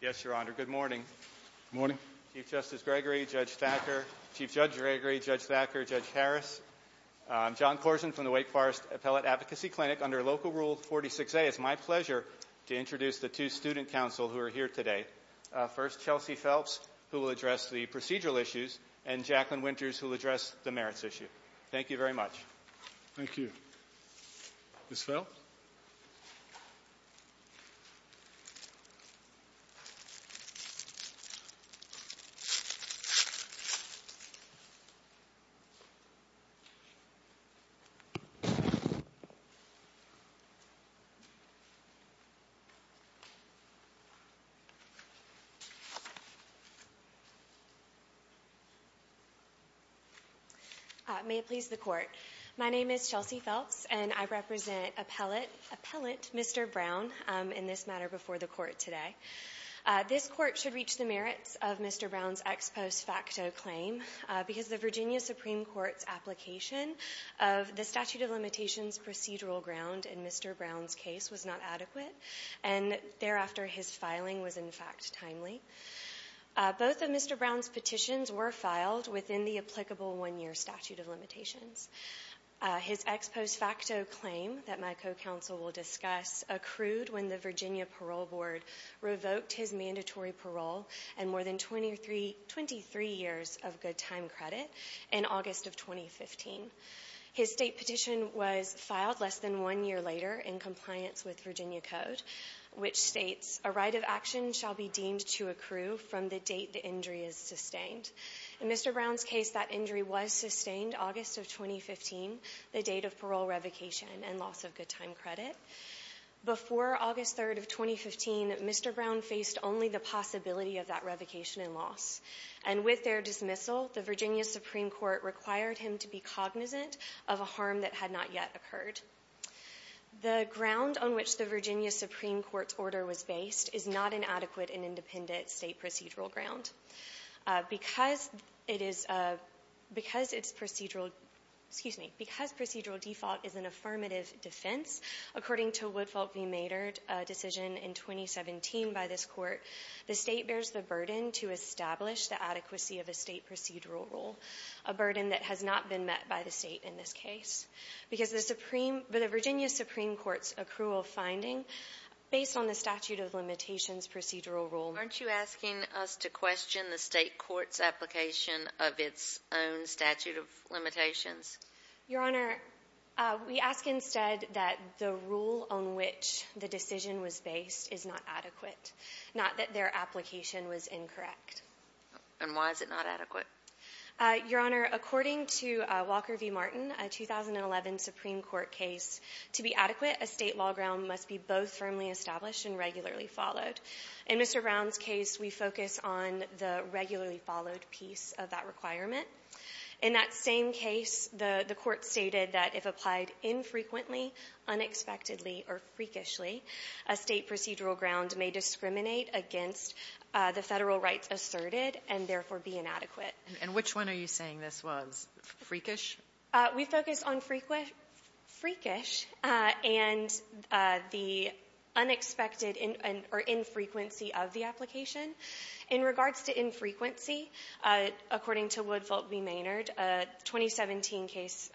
Yes, your honor. Good morning. Morning. Chief Justice Gregory, Judge Thacker, Chief Judge Gregory, Judge Thacker, Judge Harris. I'm John Corson from the Wake Forest Appellate Advocacy Clinic. Under Local Rule 46A, it's my pleasure to introduce the two student counsel who are here today. First, Chelsea Phelps, who will address the procedural issues, and Jacqueline Winters, who will address the merits issue. Thank you very much. Thank you. Ms. Phelps? May it please the court. My name is Chelsea Phelps, and I represent Appellate Mr. Brown in this matter before the court today. This court should reach the merits of Mr. Brown's ex post facto claim because the Virginia Supreme Court's application of the statute of limitations procedural ground in Mr. Brown's case was not adequate. And thereafter, his filing was, in fact, timely. Both of Mr. Brown's petitions were filed within the applicable one year statute of limitations. His ex post facto claim that my co-counsel will discuss accrued when the Virginia Parole Board revoked his mandatory parole and more than 23 years of good time credit in August of 2015. His state petition was filed less than one year later in compliance with Virginia code, which states a right of action shall be deemed to accrue from the date the injury is sustained. In Mr. Brown's case, that injury was sustained August of 2015, the date of parole revocation and loss of good time credit. Before August 3rd of 2015, Mr. Brown faced only the possibility of that revocation and loss. And with their dismissal, the Virginia Supreme Court required him to be cognizant of a harm that had not yet occurred. The ground on which the Virginia Supreme Court's order was based is not an adequate and independent state procedural ground. Because it is — because its procedural — excuse me, because procedural default is an affirmative defense, according to Woodfelt v. Maynard, a decision in 2017 by this court, the state bears the burden to establish the adequacy of a state procedural rule, a burden that has not been met by the state in this case. Because the Supreme — the Virginia Supreme Court's accrual finding, based on the statute of limitations procedural rule — Are you asking us to question the state court's application of its own statute of limitations? Your Honor, we ask instead that the rule on which the decision was based is not adequate, not that their application was incorrect. And why is it not adequate? Your Honor, according to Walker v. Martin, a 2011 Supreme Court case, to be adequate, a state law ground must be both firmly established and regularly followed. In Mr. Brown's case, we focus on the regularly followed piece of that requirement. In that same case, the — the Court stated that if applied infrequently, unexpectedly, or freakishly, a state procedural ground may discriminate against the Federal rights asserted and therefore be inadequate. And which one are you saying this was, freakish? We focus on freakish and the unexpected or infrequency of the application. In regards to infrequency, according to Wood, Volk v. Maynard, a 2017 case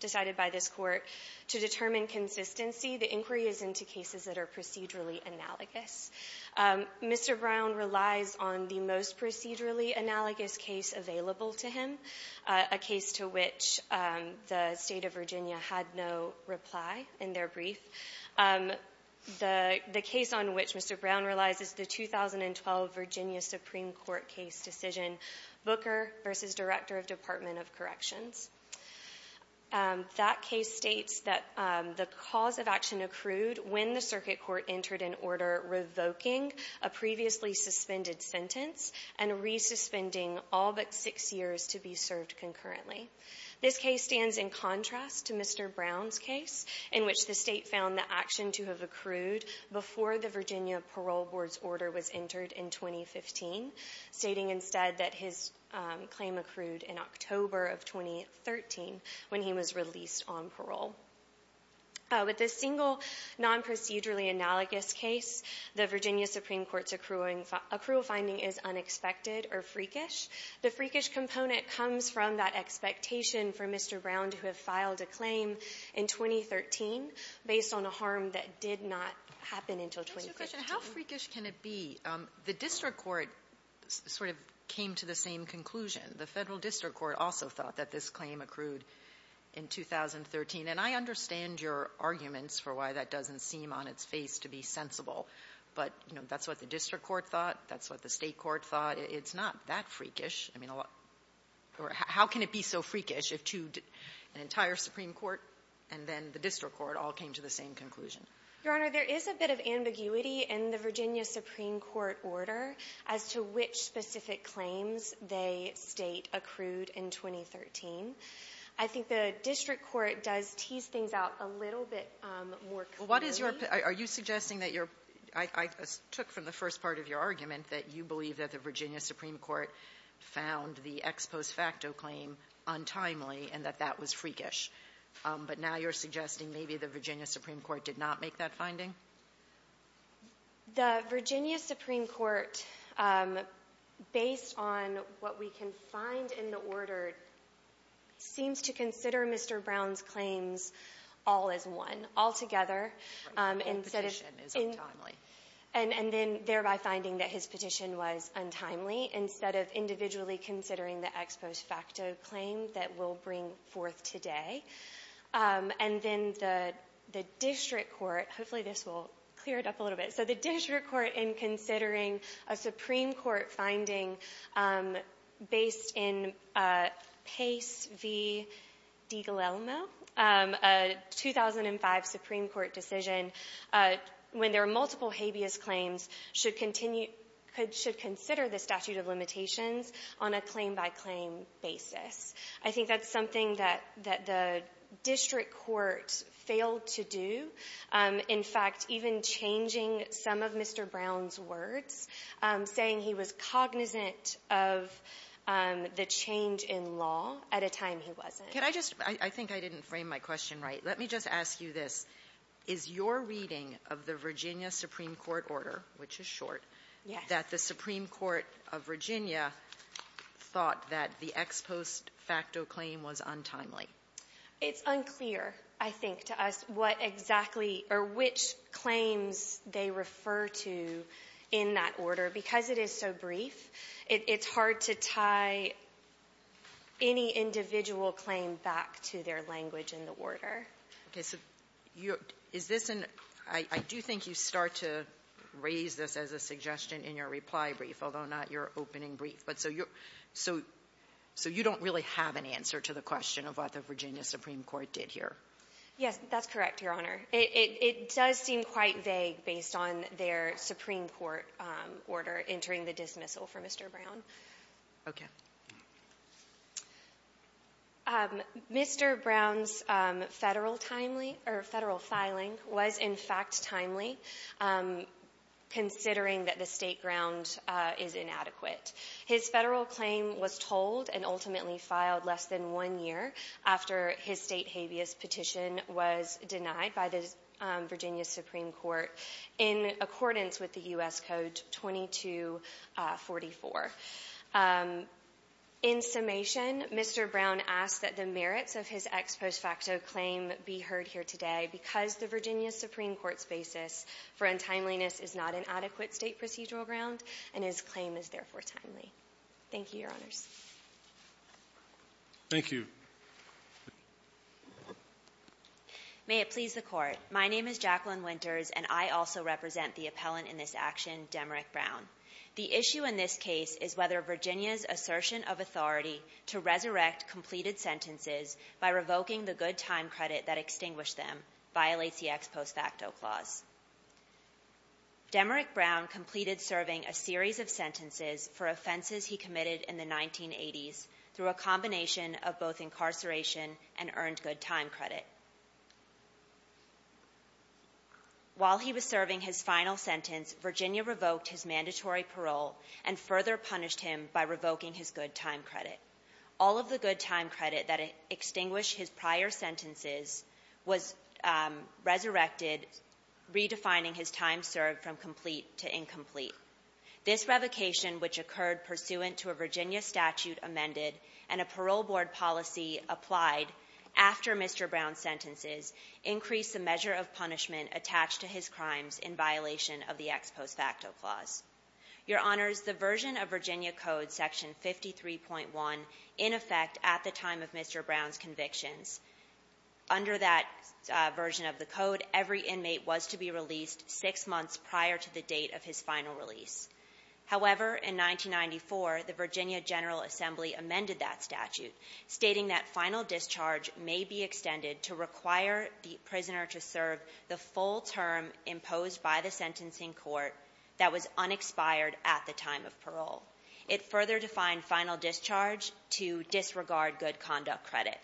decided by this Court to determine consistency, the inquiry is into cases that are procedurally analogous. Mr. Brown relies on the most procedurally analogous case available to him, a case to which the State of Virginia had no reply in their brief. The — the case on which Mr. Brown relies is the 2012 Virginia Supreme Court case decision Booker v. Director of Department of Corrections. That case states that the cause of action accrued when the circuit court entered an order revoking a previously suspended sentence and resuspending all but six years to be served concurrently. This case stands in contrast to Mr. Brown's case, in which the State found the action to have accrued before the Virginia Parole Board's order was entered in 2015, stating instead that his claim accrued in October of 2013 when he was released on parole. With this single non-procedurally analogous case, the Virginia Supreme Court's accrual finding is unexpected or freakish. The freakish component comes from that expectation for Mr. Brown to have filed a claim in 2013, based on a harm that did not happen until 2013. The question, how freakish can it be? The district court sort of came to the same conclusion. The federal district court also thought that this claim accrued in 2013. And I understand your arguments for why that doesn't seem on its face to be sensible. But, you know, that's what the district court thought. That's what the state court thought. It's not that freakish. I mean, how can it be so freakish if two — an entire Supreme Court and then the district court all came to the same conclusion? Your Honor, there is a bit of ambiguity in the Virginia Supreme Court order as to which specific claims they state accrued in 2013. I think the district court does tease things out a little bit more clearly. Well, what is your — are you suggesting that your — I took from the first part of your argument that you believe that the Virginia Supreme Court found the ex post facto claim untimely and that that was freakish. But now you're suggesting maybe the Virginia Supreme Court did not make that finding? The Virginia Supreme Court, based on what we can find in the order, seems to consider Mr. Brown's claims all as one, altogether. Right. And the petition is untimely. And then thereby finding that his petition was untimely instead of individually considering the ex post facto claim that we'll bring forth today. And then the district court — hopefully this will clear it up a little bit. So the district court, in considering a Supreme Court finding based in Pace v. DiGalelmo, a 2005 Supreme Court decision, when there are multiple habeas claims, should continue — should consider the statute of limitations on a claim-by-claim basis. I think that's something that — that the district court failed to do. In fact, even changing some of Mr. Brown's words, saying he was cognizant of the change in law at a time he wasn't. Can I just — I think I didn't frame my question right. Let me just ask you this. Is your reading of the Virginia Supreme Court order, which is short, that the Supreme Court of Virginia thought that the ex post facto claim was untimely? It's unclear, I think, to us what exactly — or which claims they refer to in that order. Because it is so brief, it's hard to tie any individual claim back to their language in the order. Okay. So is this an — I do think you start to raise this as a suggestion in your reply brief, although not your opening brief. But so you're — so you don't really have an answer to the question of what the Virginia Supreme Court did here. Yes, that's correct, Your Honor. It does seem quite vague based on their Supreme Court order entering the dismissal for Mr. Brown. Okay. Mr. Brown's federal timely — or federal filing was, in fact, timely, considering that the state ground is inadequate. His federal claim was told and ultimately filed less than one year after his state habeas petition was denied by the Virginia Supreme Court in accordance with the U.S. Code 2244. In summation, Mr. Brown asked that the merits of his ex post facto claim be heard here today because the Virginia Supreme Court's basis for untimeliness is not an adequate state procedural ground and his claim is therefore timely. Thank you, Your Honors. Thank you. May it please the Court. My name is Jacqueline Winters, and I also represent the appellant in this action, Demerick Brown. The issue in this case is whether Virginia's assertion of authority to resurrect completed sentences by revoking the good time credit that extinguished them violates the ex post facto clause. Demerick Brown completed serving a series of sentences for offenses he committed in the 1980s through a combination of both incarceration and earned good time credit. While he was serving his final sentence, Virginia revoked his mandatory parole and further punished him by revoking his good time credit. All of the good time credit that extinguished his prior sentences was resurrected, redefining his time served from complete to incomplete. This revocation, which occurred pursuant to a Virginia statute amended and a parole board policy applied after Mr. Brown's sentences, increased the measure of punishment attached to his crimes in violation of the ex post facto clause. Your Honors, the version of Virginia Code Section 53.1, in effect, at the time of Mr. Brown's convictions, under that version of the code, every inmate was to be released six months prior to the date of his final release. However, in 1994, the Virginia General Assembly amended that statute, stating that final discharge may be extended to require the prisoner to serve the full term imposed by the sentencing court that was unexpired at the time of parole. It further defined final discharge to disregard good conduct credit.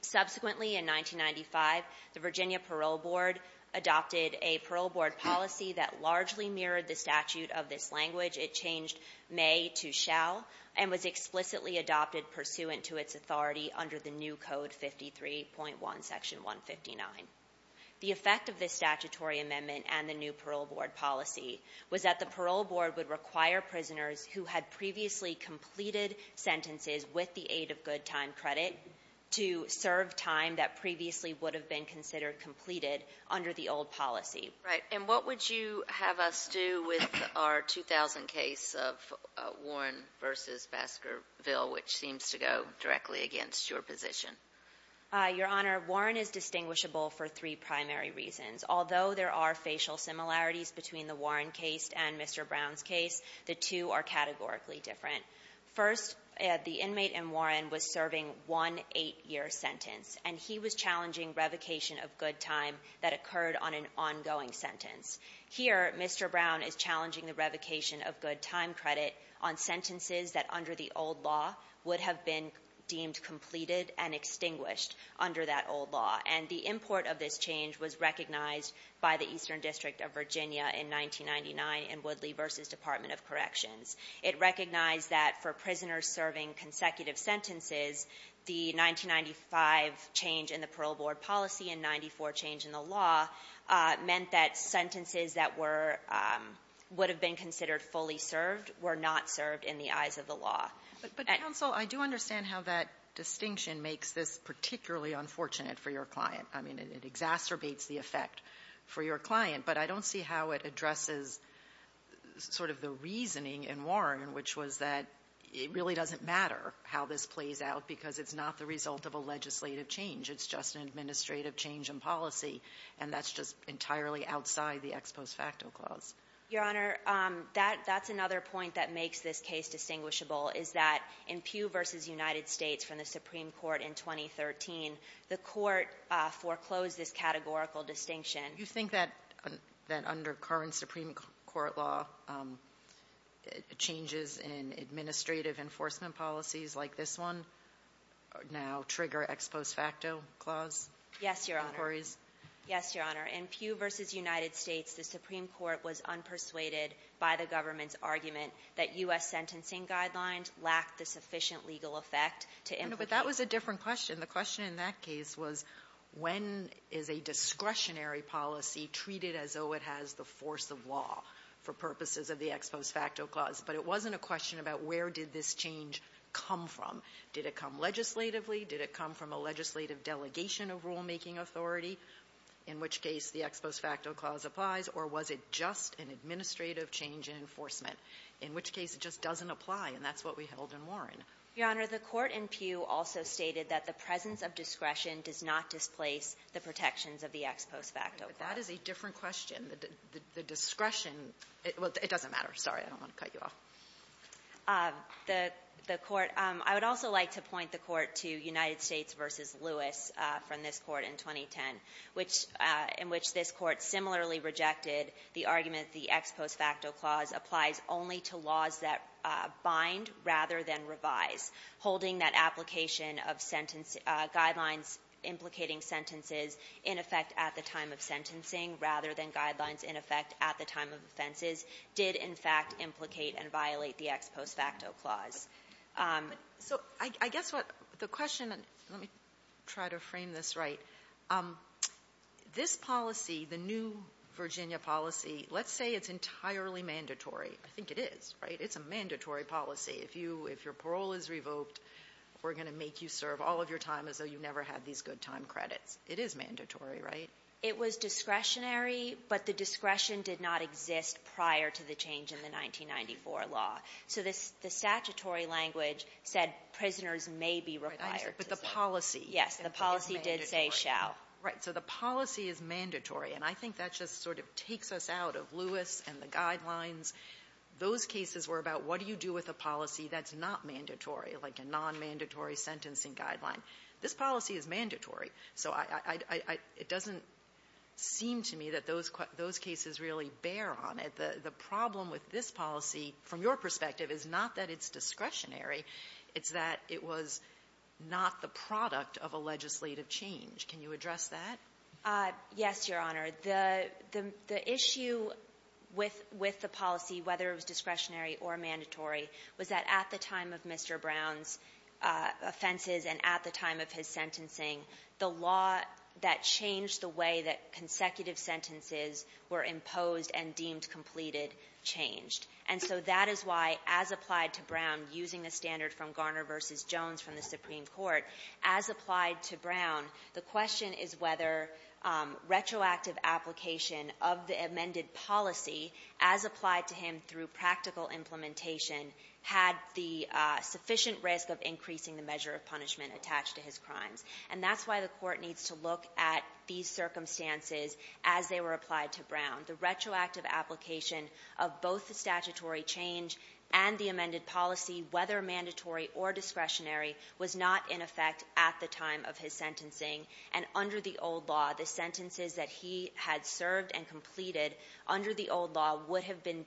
Subsequently, in 1995, the Virginia Parole Board adopted a parole board policy that largely mirrored the statute of this language. It changed may to shall and was explicitly adopted pursuant to its authority under the new Code 53.1, Section 159. The effect of this statutory amendment and the new parole board policy was that the parole board would require prisoners who had previously completed sentences with the aid of good time credit to serve time that previously would have been considered completed under the old policy. Right. And what would you have us do with our 2000 case of Warren v. Baskerville, which seems to go directly against your position? Your Honor, Warren is distinguishable for three primary reasons. Although there are facial similarities between the Warren case and Mr. Brown's case, the two are categorically different. First, the inmate in Warren was serving one 8-year sentence, and he was challenging revocation of good time that occurred on an ongoing sentence. Here, Mr. Brown is challenging the revocation of good time credit on sentences that under the old law would have been deemed completed and extinguished under that old law. And the import of this change was recognized by the Eastern District of Virginia in 1999 in Woodley v. Department of Corrections. It recognized that for prisoners serving consecutive sentences, the 1995 change in the parole board policy and 94 change in the law meant that sentences that were – would have been considered fully served were not served in the eyes of the law. But, Counsel, I do understand how that distinction makes this particularly unfortunate for your client. I mean, it exacerbates the effect for your client, but I don't see how it addresses sort of the reasoning in Warren, which was that it really doesn't matter how this plays out because it's not the result of a legislative change. It's just an administrative change in policy, and that's just entirely outside the ex post facto clause. Your Honor, that's another point that makes this case distinguishable is that in Pugh v. United States from the Supreme Court in 2013, the court foreclosed this categorical distinction. You think that under current Supreme Court law, changes in administrative enforcement policies like this one now trigger ex post facto clause inquiries? Yes, Your Honor. Yes, Your Honor. In Pugh v. United States, the Supreme Court was unpersuaded by the government's argument that U.S. sentencing guidelines lacked the sufficient legal effect to implicate – But that was a different question. The question in that case was when is a discretionary policy treated as though it has the force of law for purposes of the ex post facto clause, but it wasn't a question about where did this change come from. Did it come legislatively? Did it come from a legislative delegation of rulemaking authority, in which case the ex post facto clause applies, or was it just an administrative change in enforcement, in which case it just doesn't apply, and that's what we held in Warren. Your Honor, the court in Pugh also stated that the presence of discretion does not displace the protections of the ex post facto clause. But that is a different question. The discretion – well, it doesn't matter. Sorry. I don't want to cut you off. The court – I would also like to point the court to United States v. Lewis from this court in 2010, which – in which this court similarly rejected the argument the ex post facto clause applies only to laws that bind rather than revise, holding that application of sentence – guidelines implicating sentences in effect at the time of sentencing rather than guidelines in effect at the time of offenses did, in fact, implicate and violate the ex post facto clause. So I guess what the question – let me try to frame this right. This policy, the new Virginia policy, let's say it's entirely mandatory. I think it is, right? It's a mandatory policy. If you – if your parole is revoked, we're going to make you serve all of your time as though you never had these good time credits. It is mandatory, right? It was discretionary, but the discretion did not exist prior to the change in the 1994 law. So the statutory language said prisoners may be required to serve. But the policy – Yes, the policy did say shall. Right. So the policy is mandatory. And I think that just sort of takes us out of a policy that's not mandatory, like a nonmandatory sentencing guideline. This policy is mandatory. So I – it doesn't seem to me that those cases really bear on it. The problem with this policy, from your perspective, is not that it's discretionary. It's that it was not the product of a legislative change. Can you address that? Yes, Your Honor. The issue with the policy, whether it was discretionary or mandatory, was that at the time of Mr. Brown's offenses and at the time of his sentencing, the law that changed the way that consecutive sentences were imposed and deemed completed changed. And so that is why, as applied to Brown, using the standard from Garner v. Jones from the Supreme Court, as applied to Brown, the question is whether retroactive application of the amended policy as applied to him through practical implementation had the sufficient risk of increasing the measure of punishment attached to his crimes. And that's why the Court needs to look at these circumstances as they were applied to Brown. The retroactive application of both the statutory change and the amended policy, whether mandatory or discretionary, was not in effect at the time of his sentencing. And under the old law, the sentences that he had served and completed under the old law would have been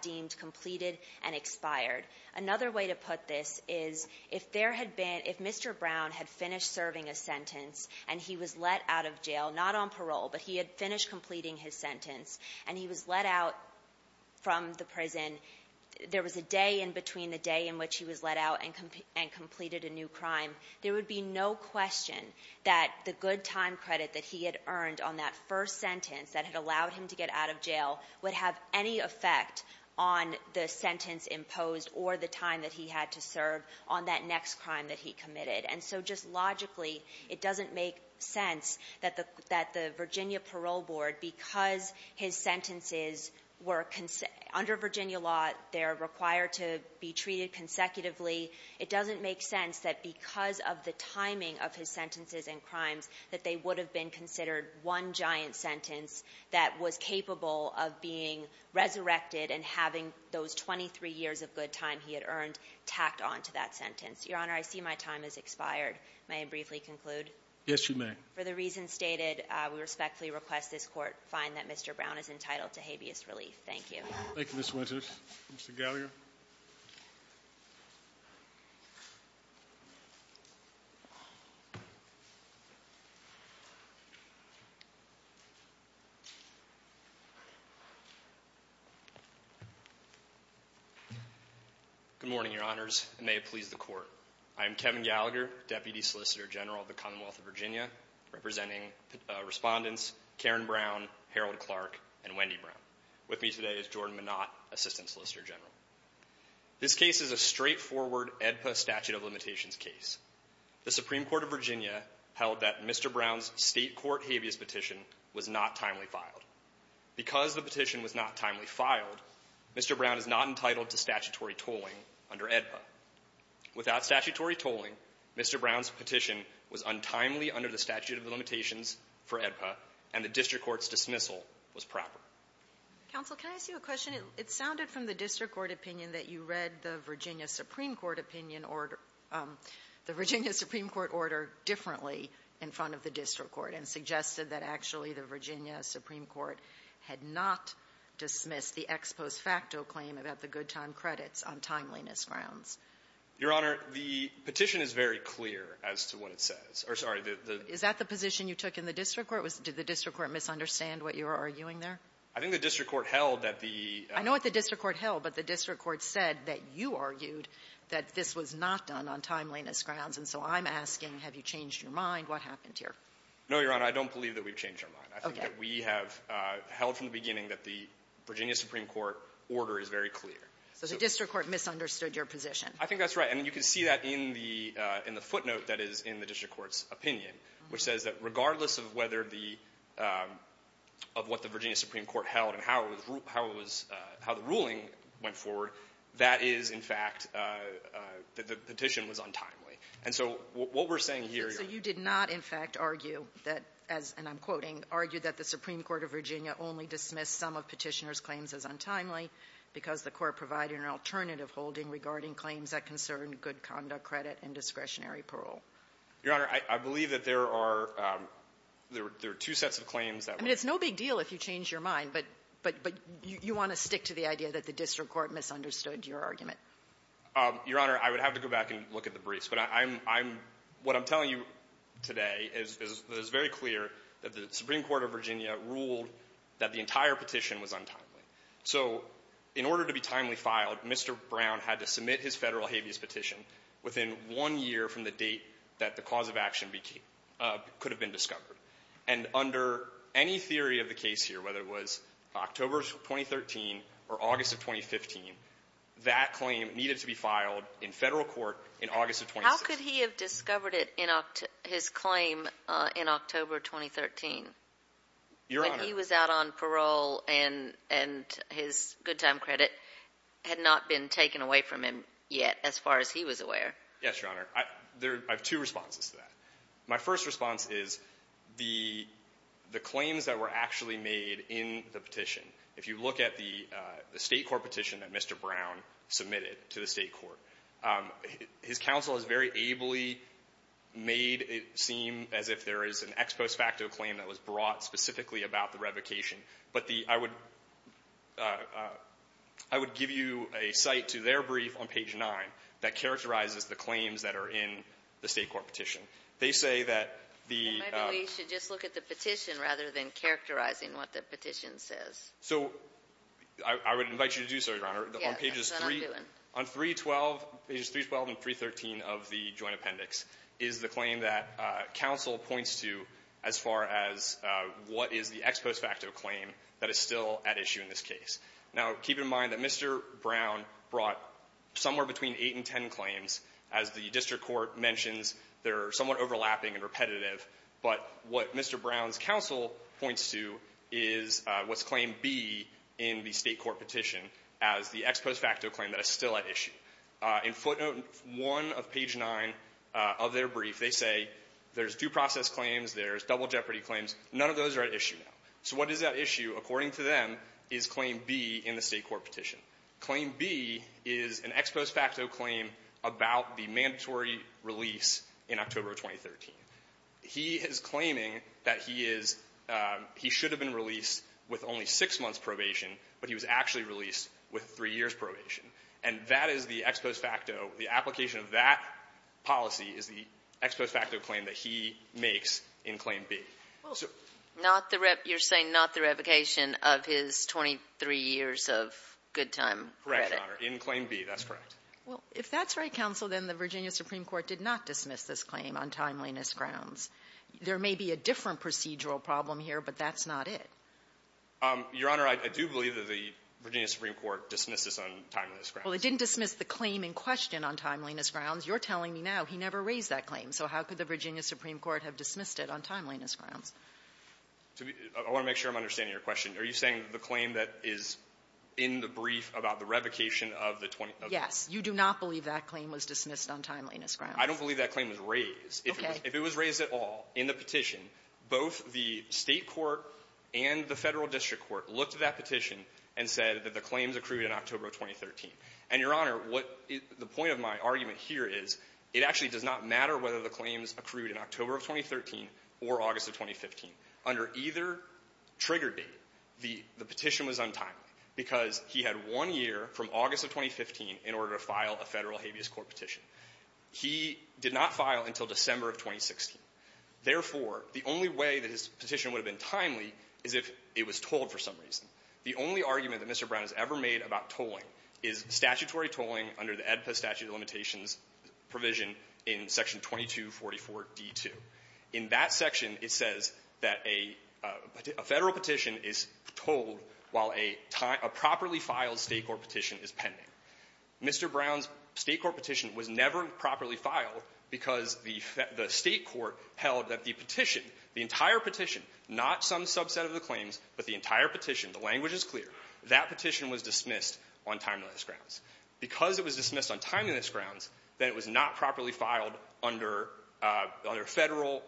deemed completed and expired. Another way to put this is if there had been – if Mr. Brown had finished serving a sentence and he was let out of jail, not on parole, but he had finished completing his sentence and he was let out from the prison, there was a day in between the day in which he was let out and completed a new crime, there would be no question that the good time credit that he had earned on that first sentence that had allowed him to get out of jail, it doesn't make sense that the – that the Virginia parole board, because his sentences were – under Virginia law, they're required to be treated consecutively, it doesn't make sense that because of the timing of his sentences and crimes that they would have been considered one giant sentence that was capable of being resurrected and having those 23 years of good time he had earned tacked onto that sentence. Your Honor, I see my time has expired. May I briefly conclude? Yes, you may. For the reasons stated, we respectfully request this court find that Mr. Brown is entitled to habeas relief. Thank you. Thank you, Ms. Winters. Mr. Galliard? Good morning, Your Honors, and may it please the court. I am Kevin Galliard, Deputy Solicitor General of the Commonwealth of Virginia, representing respondents Karen Brown, Harold Clark, and Wendy Brown. With me today is Jordan Minot, Assistant Solicitor General. This case is a straightforward AEDPA statute of limitations case. The Supreme Court of Virginia held that Mr. Brown's State court habeas petition was not timely filed. Because the petition was not timely filed, Mr. Brown is not entitled to statutory tolling under AEDPA. Without statutory tolling, Mr. Brown's petition was untimely under the statute of limitations for AEDPA, and the district court's dismissal was proper. Counsel, can I ask you a question? It sounded from the district court opinion that you read the Virginia Supreme Court opinion or the Virginia Supreme Court order differently in front of the district court and suggested that actually the Virginia Supreme Court had not dismissed the ex post facto claim about the good time credits on timeliness grounds. Your Honor, the petition is very clear as to what it says. Sorry. Is that the position you took in the district court? Did the district court misunderstand what you were arguing there? I think the district court held that the — I know what the district court held, but the district court said that you argued that this was not done on timeliness grounds. And so I'm asking, have you changed your mind? What happened here? No, Your Honor. I don't believe that we've changed our mind. Okay. I think that we have held from the beginning that the Virginia Supreme Court order is very clear. So the district court misunderstood your position. I think that's right. And you can see that in the footnote that is in the district court's opinion, which says that regardless of whether the — of what the Virginia Supreme Court held and how it was — how the ruling went forward, that is, in fact, the petition was untimely. And so what we're saying here, Your Honor — So you did not, in fact, argue that — and I'm quoting — argue that the Supreme Court of Virginia only dismissed some of Petitioner's claims as untimely because the court provided an alternative holding regarding claims that concerned good conduct, credit, and discretionary parole. Your Honor, I believe that there are — there are two sets of claims that were — I mean, it's no big deal if you change your mind. But — but you want to stick to the idea that the district court misunderstood your argument. Your Honor, I would have to go back and look at the briefs. But I'm — I'm — what I'm telling you today is — is very clear that the Supreme Court of Virginia ruled that the entire petition was untimely. So in order to be timely filed, Mr. Brown had to submit his Federal habeas petition within one year from the date that the cause of action became — could have been discovered. And under any theory of the case here, whether it was October of 2013 or August of 2015, that claim needed to be filed in Federal court in August of 2016. How could he have discovered it in — his claim in October 2013? Your Honor — When he was out on parole and — and his good time credit had not been taken away from him yet, as far as he was aware. Yes, Your Honor. I — there — I have two responses to that. My first response is the — the claims that were actually made in the petition. If you look at the — the State court petition that Mr. Brown submitted to the State court, his counsel has very ably made it seem as if there is an ex post facto claim that was brought specifically about the revocation. But the — I would — I would give you a cite to their brief on page 9 that characterizes the claims that are in the State court petition. They say that the — Then maybe we should just look at the petition rather than characterizing what the petition says. So I would invite you to do so, Your Honor. Yes, that's what I'm doing. On pages 312 and 313 of the joint appendix is the claim that counsel points to as far as what is the ex post facto claim that is still at issue in this case. Now, keep in mind that Mr. Brown brought somewhere between 8 and 10 claims. As the district court mentions, they're somewhat overlapping and repetitive. But what Mr. Brown's counsel points to is what's claimed B in the State court petition as the ex post facto claim that is still at issue. In footnote 1 of page 9 of their brief, they say there's due process claims, there's double jeopardy claims. None of those are at issue now. So what is at issue, according to them, is claim B in the State court petition. Claim B is an ex post facto claim about the mandatory release in October of 2013. He is claiming that he is — he should have been released with only six months probation, but he was actually released with three years probation. And that is the ex post facto. The application of that policy is the ex post facto claim that he makes in claim B. So — Not the — you're saying not the revocation of his 23 years of good time credit. Correct, Your Honor. In claim B, that's correct. Well, if that's right, counsel, then the Virginia Supreme Court did not dismiss this claim on timeliness grounds. There may be a different procedural problem here, but that's not it. Your Honor, I do believe that the Virginia Supreme Court dismissed this on timeliness grounds. Well, it didn't dismiss the claim in question on timeliness grounds. You're telling me now he never raised that claim. So how could the Virginia Supreme Court have dismissed it on timeliness grounds? I want to make sure I'm understanding your question. Are you saying the claim that is in the brief about the revocation of the 20 — Yes. You do not believe that claim was dismissed on timeliness grounds. I don't believe that claim was raised. Okay. If it was raised at all in the petition, both the State court and the Federal And, Your Honor, what — the point of my argument here is it actually does not matter whether the claims accrued in October of 2013 or August of 2015. Under either trigger date, the — the petition was untimely, because he had one year from August of 2015 in order to file a Federal habeas court petition. He did not file until December of 2016. Therefore, the only way that his petition would have been timely is if it was tolled for some reason. The only argument that Mr. Brown has ever made about tolling is statutory tolling under the AEDPA statute of limitations provision in section 2244d2. In that section, it says that a — a Federal petition is tolled while a — a properly filed State court petition is pending. Mr. Brown's State court petition was never properly filed because the — the State court held that the petition, the entire petition, not some subset of the claims, but the entire petition, the language is clear, that petition was dismissed on timeliness grounds. Because it was dismissed on timeliness grounds, then it was not properly filed under — under Federal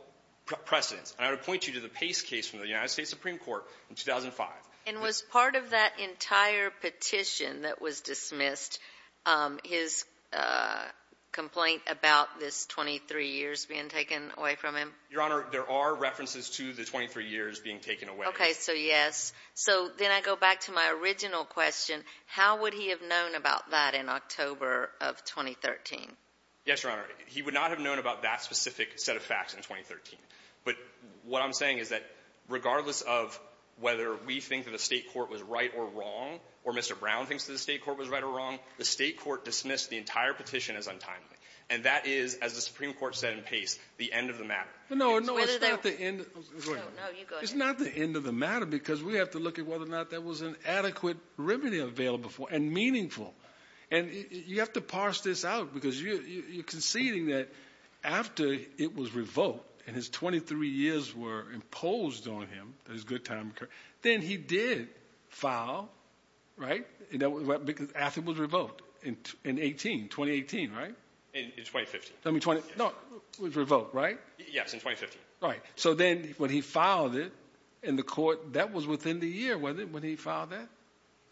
precedence. And I would point you to the Pace case from the United States Supreme Court in 2005. And was part of that entire petition that was dismissed his complaint about this 23 years being taken away from him? Your Honor, there are references to the 23 years being taken away. Okay. So, yes. So then I go back to my original question. How would he have known about that in October of 2013? Yes, Your Honor. He would not have known about that specific set of facts in 2013. But what I'm saying is that regardless of whether we think that the State court was right or wrong or Mr. Brown thinks that the State court was right or wrong, the State court dismissed the entire petition as untimely. And that is, as the Supreme Court said in Pace, the end of the matter. Whether they — No, no, it's not the end — No, no, you go ahead. It's not the end of the matter because we have to look at whether or not there was an adequate remedy available and meaningful. And you have to parse this out because you're conceding that after it was revoked and his 23 years were imposed on him, that his good time occurred, then he did file, right? After it was revoked in 2018, right? In 2015. No, it was revoked, right? Yes, in 2015. Right. So then when he filed it in the court, that was within the year, wasn't it, when he filed that?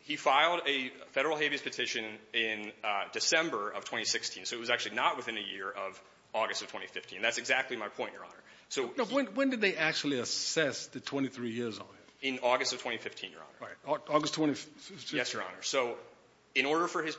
He filed a Federal habeas petition in December of 2016. So it was actually not within a year of August of 2015. That's exactly my point, Your Honor. When did they actually assess the 23 years on him? In August of 2015, Your Honor. August 2015? Yes, Your Honor. So in order for his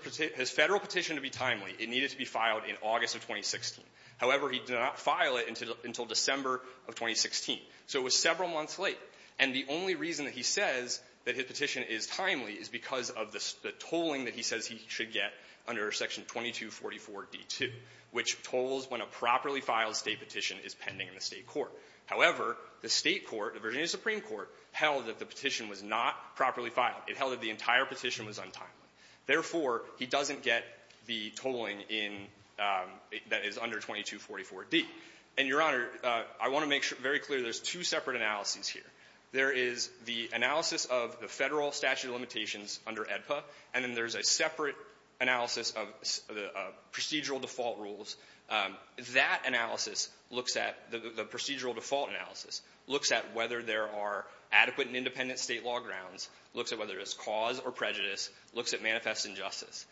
Federal petition to be timely, it needed to be filed in August of 2016. However, he did not file it until December of 2016. So it was several months late. And the only reason that he says that his petition is timely is because of the tolling that he says he should get under Section 2244d2, which tolls when a properly filed State petition is pending in the State court. However, the State court, the Virginia Supreme Court, held that the petition was not properly filed. It held that the entire petition was untimely. Therefore, he doesn't get the tolling in that is under 2244d. And, Your Honor, I want to make very clear there's two separate analyses here. There is the analysis of the Federal statute of limitations under AEDPA, and then there's a separate analysis of procedural default rules. That analysis looks at the procedural default analysis, looks at whether there are adequate and independent State law grounds, looks at whether it's cause or prejudice, looks at manifest injustice.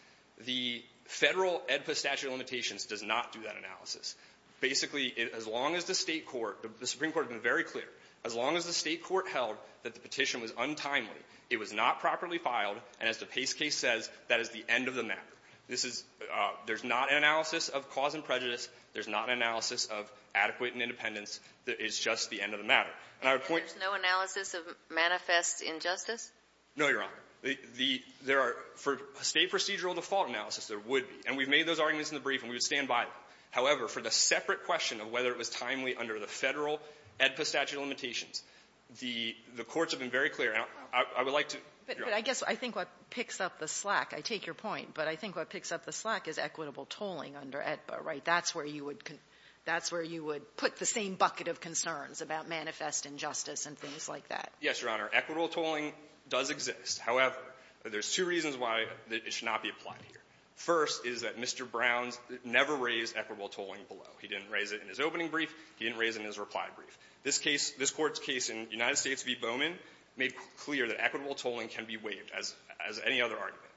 The Federal AEDPA statute of limitations does not do that analysis. Basically, as long as the State court, the Supreme Court has been very clear, as long as the State court held that the petition was untimely, it was not properly filed, and as the Pace case says, that is the end of the matter. This is there's not an analysis of cause and prejudice. There's not an analysis of adequate and independence. It's just the end of the matter. And I would point to the other analysis of manifest injustice. No, Your Honor. The — there are — for State procedural default analysis, there would be. And we've made those arguments in the brief, and we would stand by them. However, for the separate question of whether it was timely under the Federal AEDPA statute of limitations, the courts have been very clear. And I would like to — But I guess I think what picks up the slack, I take your point, but I think what picks up the slack is equitable tolling under AEDPA, right? That's where you would — that's where you would put the same bucket of concerns about manifest injustice and things like that. Yes, Your Honor. Equitable tolling does exist. However, there's two reasons why it should not be applied here. First is that Mr. Browns never raised equitable tolling below. He didn't raise it in his opening brief. He didn't raise it in his reply brief. This case — this Court's case in United States v. Bowman made clear that equitable tolling can be waived, as any other argument.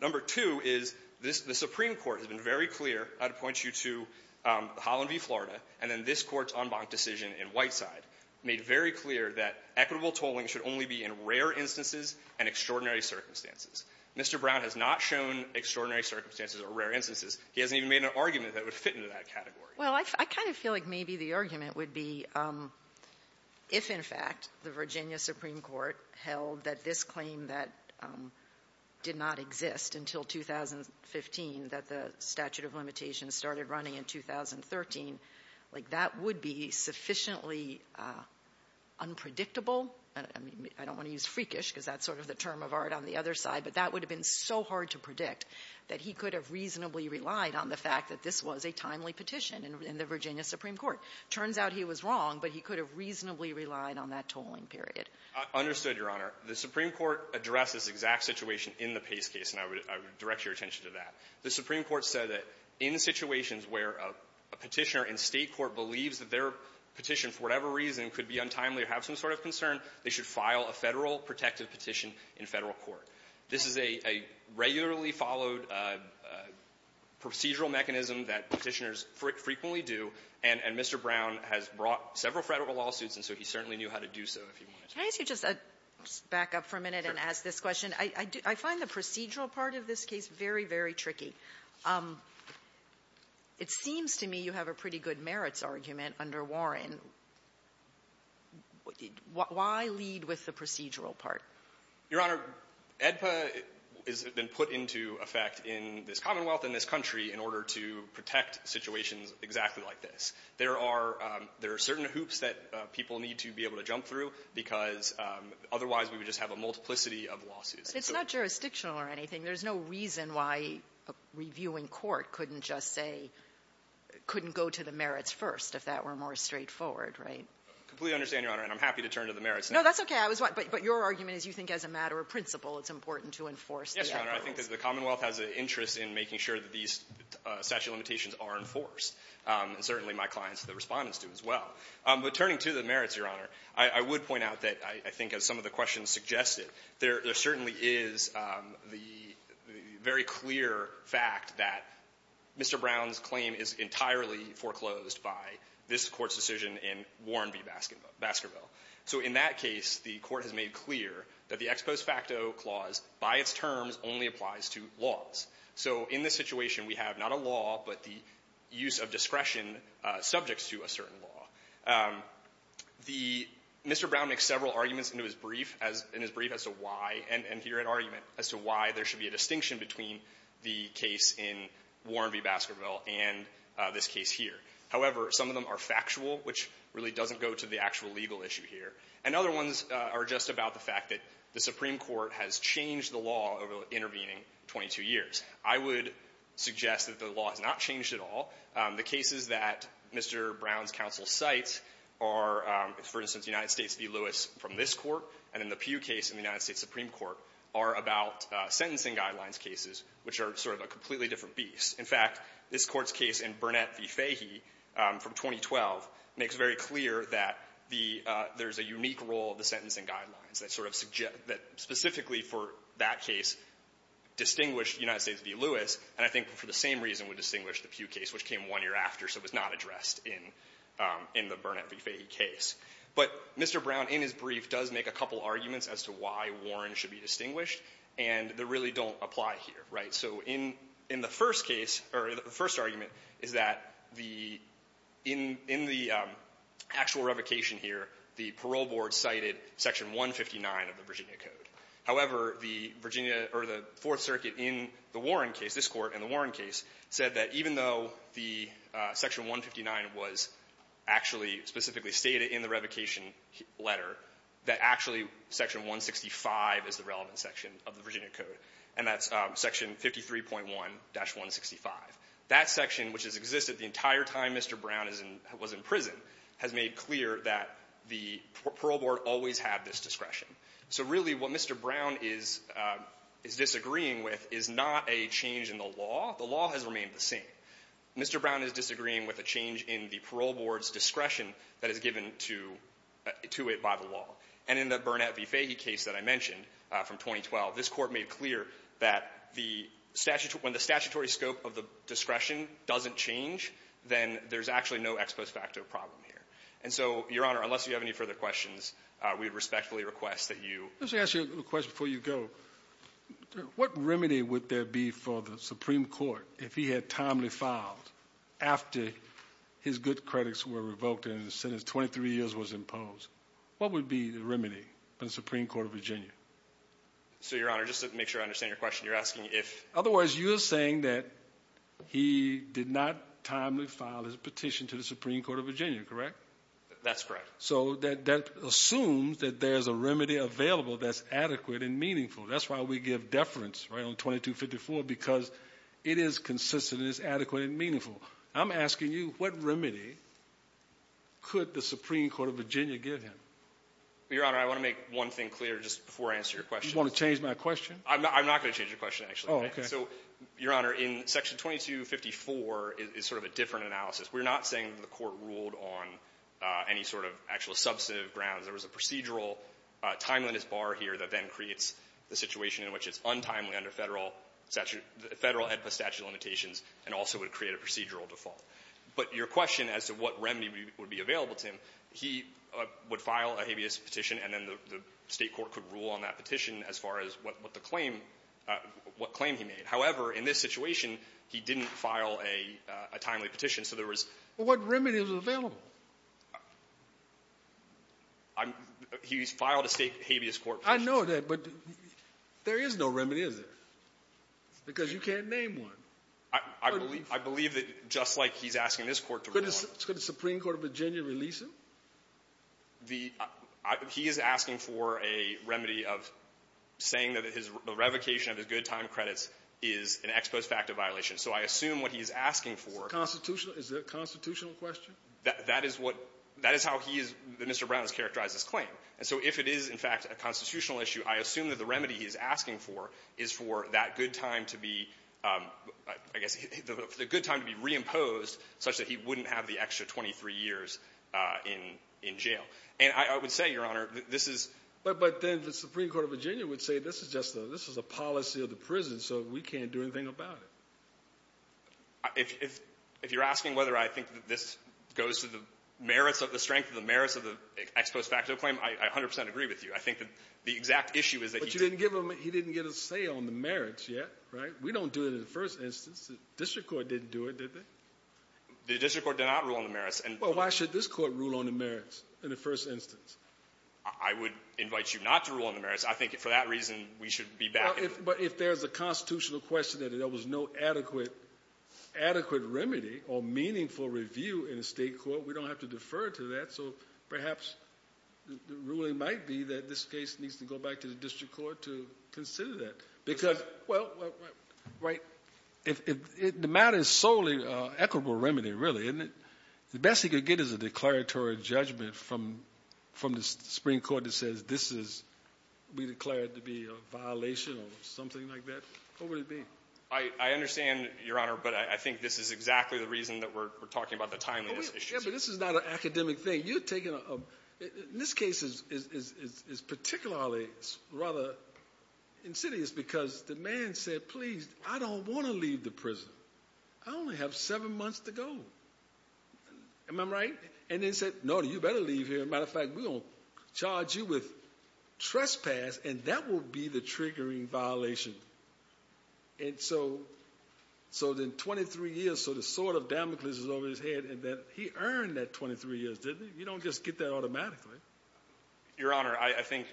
Number two is this — the Supreme Court has been very clear — I would point you to Holland v. Florida, and then this Court's en banc decision in Whiteside made very clear that equitable tolling should only be in rare instances and extraordinary circumstances. Mr. Brown has not shown extraordinary circumstances or rare instances. He hasn't even made an argument that would fit into that category. Well, I kind of feel like maybe the argument would be if, in fact, the Virginia Supreme Court held that this claim that did not exist until 2015, that the statute of limitations started running in 2013, like, that would be sufficiently unpredictable — I mean, I don't want to use freakish because that's sort of the term of art on the other side — but that would have been so hard to predict that he could have reasonably relied on the fact that this was a timely petition in the Virginia Supreme Court. Turns out he was wrong, but he could have reasonably relied on that tolling period. I understood, Your Honor. The Supreme Court addressed this exact situation in the Pace case, and I would direct your attention to that. The Supreme Court said that in situations where a Petitioner in State court believes that their petition for whatever reason could be untimely or have some sort of concern, they should file a Federal protective petition in Federal court. This is a — a regularly followed procedural mechanism that Petitioners frequently do, and — and Mr. Brown has brought several Federal lawsuits, and so he certainly knew how to do so, if you will, Mr. Brown. Kagan. Kagan. Can I ask you just a — just back up for a minute and ask this question? I find the procedural part of this case very, very tricky. It seems to me you have a pretty good merits argument under Warren. Why lead with the procedural part? Your Honor, AEDPA has been put into effect in this Commonwealth and this country in order to protect situations exactly like this. There are — there are certain hoops that people need to be able to jump through because otherwise we would just have a multiplicity of lawsuits. But it's not jurisdictional or anything. There's no reason why reviewing court couldn't just say — couldn't go to the merits first if that were more straightforward, right? I completely understand, Your Honor, and I'm happy to turn to the merits now. No, that's okay. I was — but your argument is you think as a matter of principle it's important to enforce the merits. Yes, Your Honor. I think that the Commonwealth has an interest in making sure that these statute of limitations are enforced, and certainly my clients and the respondents do as well. But turning to the merits, Your Honor, I would point out that I think as some of the questions suggested, there certainly is the very clear fact that Mr. Brown's claim is entirely foreclosed by this Court's decision in Warren v. Baskerville. So in that case, the Court has made clear that the ex post facto clause by its terms only applies to laws. So in this situation, we have not a law, but the use of discretion subject to a certain law. The — Mr. Brown makes several arguments in his brief as — in his brief as to why — and here an argument as to why there should be a distinction between the case in Warren v. Baskerville and this case here. However, some of them are factual, which really doesn't go to the actual legal issue here. And other ones are just about the fact that the Supreme Court has changed the law over the intervening 22 years. I would suggest that the law has not changed at all. The cases that Mr. Brown's counsel cites are, for instance, United States v. Lewis from this Court, and then the Pew case in the United States Supreme Court are about sentencing guidelines cases, which are sort of a completely different beast. In fact, this Court's case in Burnett v. Fahey from 2012 makes very clear that the — there's a unique role of the sentencing guidelines that sort of — that specifically for that case distinguished United States v. Lewis, and I think for the same reason would distinguish the Pew case, which came one year after, so it was not addressed in — in the Burnett v. Fahey case. But Mr. Brown in his brief does make a couple arguments as to why Warren should be distinguished, and they really don't apply here, right? So in — in the first case — or the first argument is that the — in — in the actual revocation here, the parole board cited section 159 of the Virginia Code. However, the Virginia — or the Fourth Circuit in the Warren case, this Court in the Warren case, said that even though the section 159 was actually specifically stated in the revocation letter, that actually section 165 is the relevant section of the Virginia Code, and that's section 53.1-165. That section, which has existed the entire time Mr. Brown is in — was in prison, has made clear that the parole board always had this discretion. So really, what Mr. Brown is — is disagreeing with is not a change in the law. The law has remained the same. Mr. Brown is disagreeing with a change in the parole board's discretion that is given to — to it by the law. And in the Burnett v. Fahey case that I mentioned from 2012, this Court made clear that the — when the statutory scope of the discretion doesn't change, then there's actually no ex post facto problem here. And so, Your Honor, unless you have any further questions, we would respectfully request that you — Let me ask you a question before you go. What remedy would there be for the Supreme Court if he had timely filed after his good credits were revoked and the sentence of 23 years was imposed? What would be the remedy for the Supreme Court of Virginia? So, Your Honor, just to make sure I understand your question, you're asking if — Otherwise, you're saying that he did not timely file his petition to the Supreme Court of Virginia, correct? That's correct. So, that assumes that there's a remedy available that's adequate and meaningful. That's why we give deference, right, on 2254, because it is consistent and it's adequate and meaningful. I'm asking you, what remedy could the Supreme Court of Virginia give him? Your Honor, I want to make one thing clear just before I answer your question. You want to change my question? I'm not going to change your question, actually. Oh, okay. So, Your Honor, in Section 2254 is sort of a different analysis. We're not saying that the Court ruled on any sort of actual substantive grounds. There was a procedural timeliness bar here that then creates the situation in which it's untimely under Federal statute — Federal AEDPA statute limitations and also would create a procedural default. But your question as to what remedy would be available to him, he would file a habeas petition and then the State court could rule on that petition as far as what the claim — what claim he made. However, in this situation, he didn't file a timely petition, so there was — Well, what remedy is available? I'm — he's filed a State habeas court petition. I know that, but there is no remedy, is there? Because you can't name one. I believe — I believe that just like he's asking this Court to rule on it — Could the Supreme Court of Virginia release him? The — he is asking for a remedy of saying that his — the revocation of his good time credits is an ex post facto violation. So I assume what he's asking for — Constitutional? Is that a constitutional question? That is what — that is how he is — Mr. Brown has characterized his claim. And so if it is, in fact, a constitutional issue, I assume that the remedy he's asking for is for that good time to be — I guess the good time to be reimposed such that he wouldn't have the extra 23 years in — in jail. And I would say, Your Honor, this is — But then the Supreme Court of Virginia would say this is just a — this is a policy of the prison, so we can't do anything about it. If — if you're asking whether I think that this goes to the merits of — the strength of the merits of the ex post facto claim, I 100 percent agree with you. I think that the exact issue is that he didn't — But you didn't give him — he didn't get a say on the merits yet, right? We don't do it in the first instance. The district court didn't do it, did they? The district court did not rule on the merits. And — Well, why should this Court rule on the merits in the first instance? I would invite you not to rule on the merits. I think for that reason, we should be back in — Well, if — but if there's a constitutional question that there was no adequate — adequate remedy or meaningful review in a State court, we don't have to defer to that. So perhaps the ruling might be that this case needs to go back to the district court to consider that. Because — Well — Right. If — the matter is solely equitable remedy, really, isn't it? The best he could get is a declaratory judgment from the Supreme Court that says this is — we declare it to be a violation or something like that. What would it be? I understand, Your Honor, but I think this is exactly the reason that we're talking about the timeliness issue. Yeah, but this is not an academic thing. You're taking a — this case is particularly rather insidious because the man said, please, I don't want to leave the prison. I only have seven months to go. Am I right? And then said, no, you better leave here. As a matter of fact, we're going to charge you with trespass, and that will be the triggering violation. And so — so then 23 years, so the sword of Damocles is over his head, and then he earned that 23 years, didn't he? You don't just get that automatically. Your Honor, I think,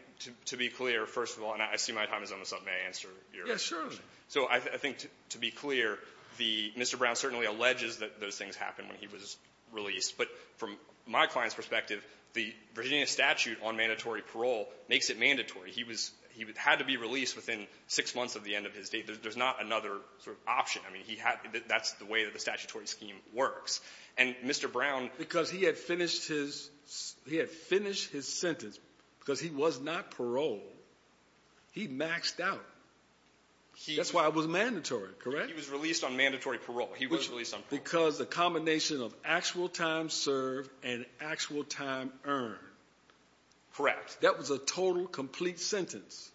to be clear, first of all — and I see my time is almost up. May I answer your question? Yes, certainly. So I think, to be clear, the — Mr. Brown certainly alleges that those things happened when he was released. But from my client's perspective, the Virginia statute on mandatory parole makes it mandatory. He was — he had to be released within six months of the end of his date. There's not another sort of option. I mean, he had — that's the way that the statutory scheme works. And Mr. Brown — Because he had finished his — he had finished his sentence, because he was not paroled, he maxed out. That's why it was mandatory, correct? He was released on mandatory parole. He was released on parole. Because the combination of actual time served and actual time earned. Correct. That was a total, complete sentence.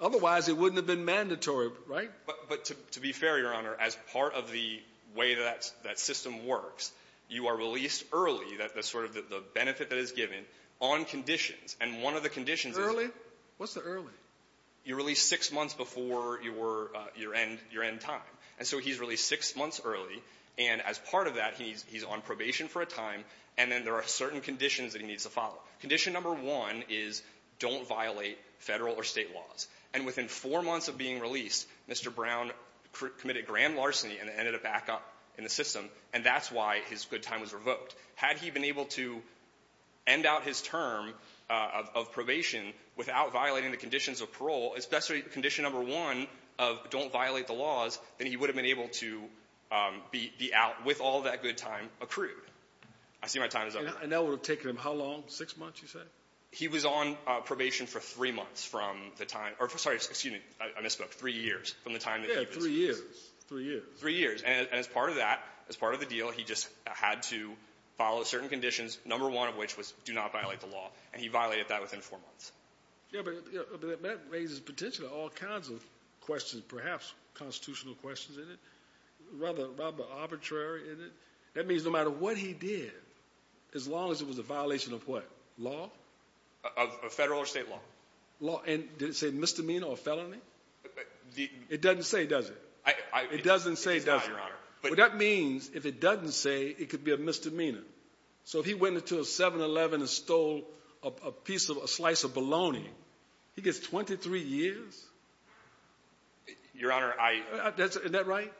Otherwise, it wouldn't have been mandatory, right? But to be fair, Your Honor, as part of the way that system works, you are released early, that's sort of the benefit that is given, on conditions. And one of the conditions is — Early? What's the early? You're released six months before your end — your end time. And so he's released six months early, and as part of that, he's on probation for a time, and then there are certain conditions that he needs to follow. Condition number one is don't violate Federal or State laws. And within four months of being released, Mr. Brown committed grand larceny and ended up back up in the system, and that's why his good time was revoked. Had he been able to end out his term of probation without violating the conditions of parole, especially condition number one of don't violate the laws, then he would have been able to be out with all that good time accrued. I see my time is up. And that would have taken him how long? Six months, you said? He was on probation for three months from the time — or, sorry, excuse me. I misspoke. Three years from the time that he was — Yeah, three years. Three years. Three years. And as part of that, as part of the deal, he just had to follow certain conditions, number one of which was do not violate the law, and he violated that within four months. Yeah, but that raises potentially all kinds of questions, perhaps constitutional questions in it, rather arbitrary in it. That means no matter what he did, as long as it was a violation of what? Law? Of Federal or State law. And did it say misdemeanor or felony? It doesn't say, does it? It doesn't say, does it? It does not, Your Honor. Well, that means if it doesn't say, it could be a misdemeanor. So if he went into a 7-Eleven and stole a piece of — a slice of bologna, he gets 23 years? Your Honor, I — Isn't that right?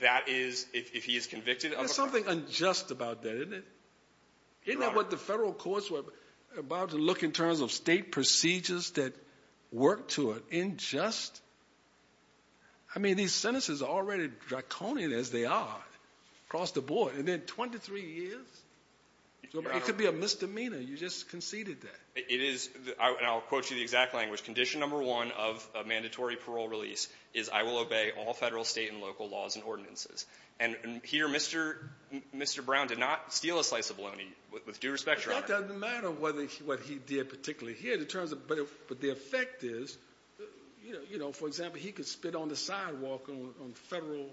That is, if he is convicted of a — There's something unjust about that, isn't it? Isn't that what the Federal courts were about to look in terms of? State procedures that work to an unjust? I mean, these sentences are already draconian as they are across the board, and then 23 years? It could be a misdemeanor. You just conceded that. It is — and I'll quote you the exact language. Condition number one of a mandatory parole release is I will obey all Federal, State, and local laws and ordinances. And here Mr. Brown did not steal a slice of bologna, with due respect, Your Honor. Well, that doesn't matter what he did particularly here. But the effect is, you know, for example, he could spit on the sidewalk on Federal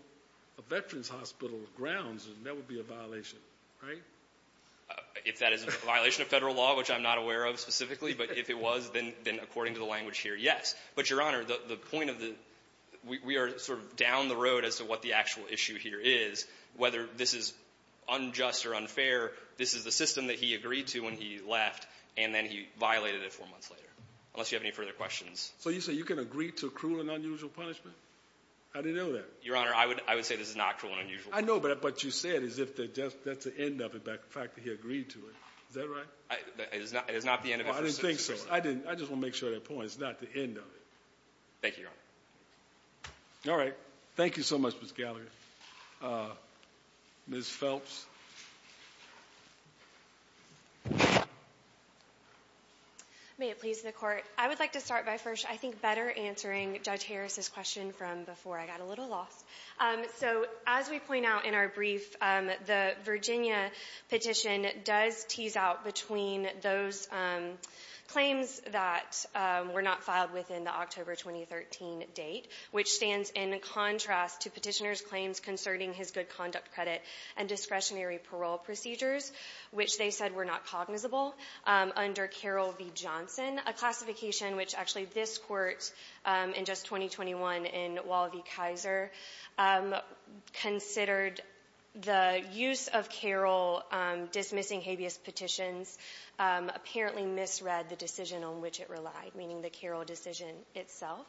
Veterans Hospital grounds, and that would be a violation, right? If that is a violation of Federal law, which I'm not aware of specifically, but if it was, then according to the language here, yes. But, Your Honor, the point of the — we are sort of down the road as to what the actual issue here is. Whether this is unjust or unfair, this is the system that he agreed to when he left, and then he violated it four months later, unless you have any further questions. So you say you can agree to cruel and unusual punishment? I didn't know that. Your Honor, I would say this is not cruel and unusual. I know, but you say it as if that's the end of it, the fact that he agreed to it. Is that right? It is not the end of it. I didn't think so. I just want to make sure that point. It's not the end of it. Thank you, Your Honor. All right. Thank you so much, Ms. Gallagher. Ms. Phelps. May it please the Court. I would like to start by first, I think, better answering Judge Harris's question from before. I got a little lost. So as we point out in our brief, the Virginia petition does tease out between those claims that were not filed within the October 2013 date, which stands in contrast to petitioner's claims concerning his good conduct credit and discretionary parole procedures, which they said were not cognizable under Carroll v. Johnson, a classification which actually this Court in just 2021 in Wall v. Kaiser considered the use of Carroll dismissing habeas petitions apparently misread the decision on which it relied, meaning the Carroll decision itself.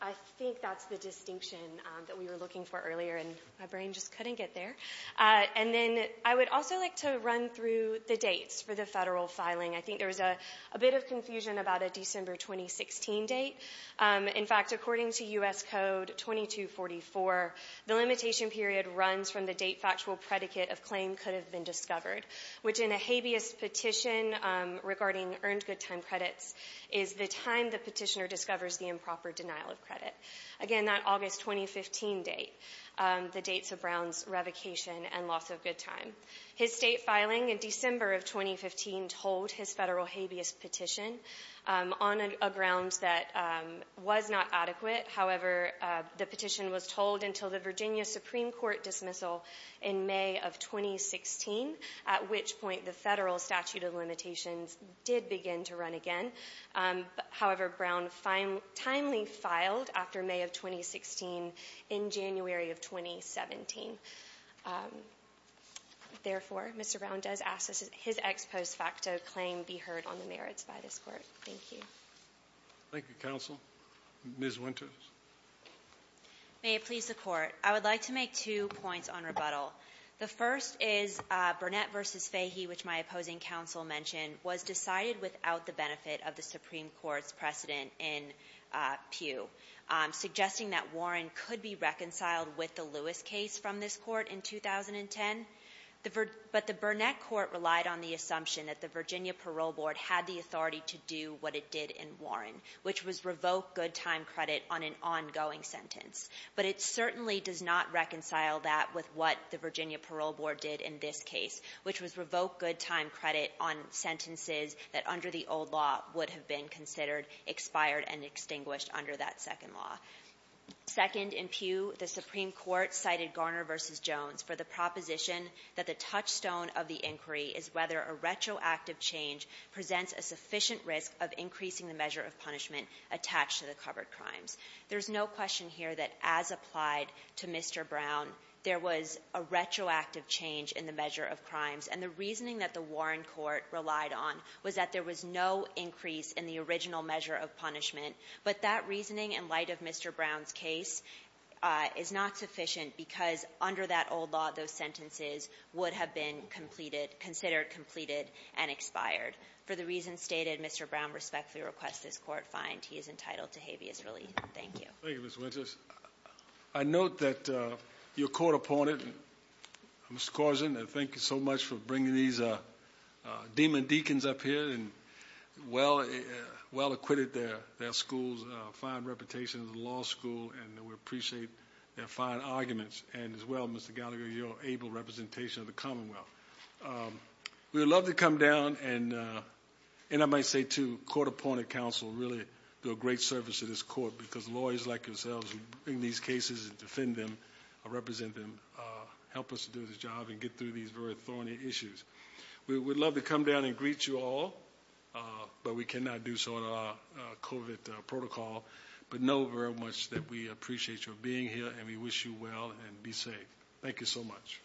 I think that's the distinction that we were looking for earlier, and my brain just couldn't get there. And then I would also like to run through the dates for the federal filing. I think there was a bit of confusion about a December 2016 date. In fact, according to U.S. Code 2244, the limitation period runs from the date factual predicate of claim could have been discovered, which in a habeas petition regarding earned good time credits is the time the petitioner discovers the improper denial of credit. Again, that August 2015 date, the dates of Brown's revocation and loss of good time. His state filing in December of 2015 told his federal habeas petition on a ground that was not adequate. However, the petition was told until the Virginia Supreme Court dismissal in May of 2016, at which point the federal statute of limitations did begin to run again. However, Brown timely filed after May of 2016 in January of 2017. Therefore, Mr. Brown does ask that his ex post facto claim be heard on the merits by this Court. Thank you. Thank you, Counsel. Ms. Winters. May it please the Court. I would like to make two points on rebuttal. The first is Burnett v. Fahey, which my opposing counsel mentioned, was decided without the benefit of the Supreme Court's precedent in Pew, suggesting that Warren could be reconciled with the Lewis case from this Court in 2010. But the Burnett court relied on the assumption that the Virginia parole board had the authority to do what it did in Warren, which was revoke good time credit on an ongoing sentence. But it certainly does not reconcile that with what the Virginia parole board did in this case, which was revoke good time credit on sentences that under the old law would have been considered expired and extinguished under that second law. Second, in Pew, the Supreme Court cited Garner v. Jones for the proposition that the touchstone of the inquiry is whether a retroactive change presents a sufficient risk of increasing the measure of punishment attached to the covered crimes. There's no question here that as applied to Mr. Brown, there was a retroactive change in the measure of crimes, and the reasoning that the Warren court relied on was that there was no increase in the original measure of punishment. But that reasoning, in light of Mr. Brown's case, is not sufficient because under that old law, those sentences would have been completed, considered completed, and expired. For the reasons stated, Mr. Brown respectfully requests this Court find he is entitled to habeas relief. Thank you. Thank you, Ms. Winters. I note that you're court appointed. Mr. Carson, thank you so much for bringing these demon deacons up here and well acquitted their schools, fine reputation of the law school, and we appreciate their fine arguments. And as well, Mr. Gallagher, your able representation of the Commonwealth. We would love to come down, and I might say, too, court appointed counsel really do a great service to this court because lawyers like yourselves bring these cases and defend them, represent them, help us do the job and get through these very thorny issues. We would love to come down and greet you all, but we cannot do so in our COVID protocol. But know very much that we appreciate your being here, and we wish you well, and Thank you so much. Thank you, Your Honor.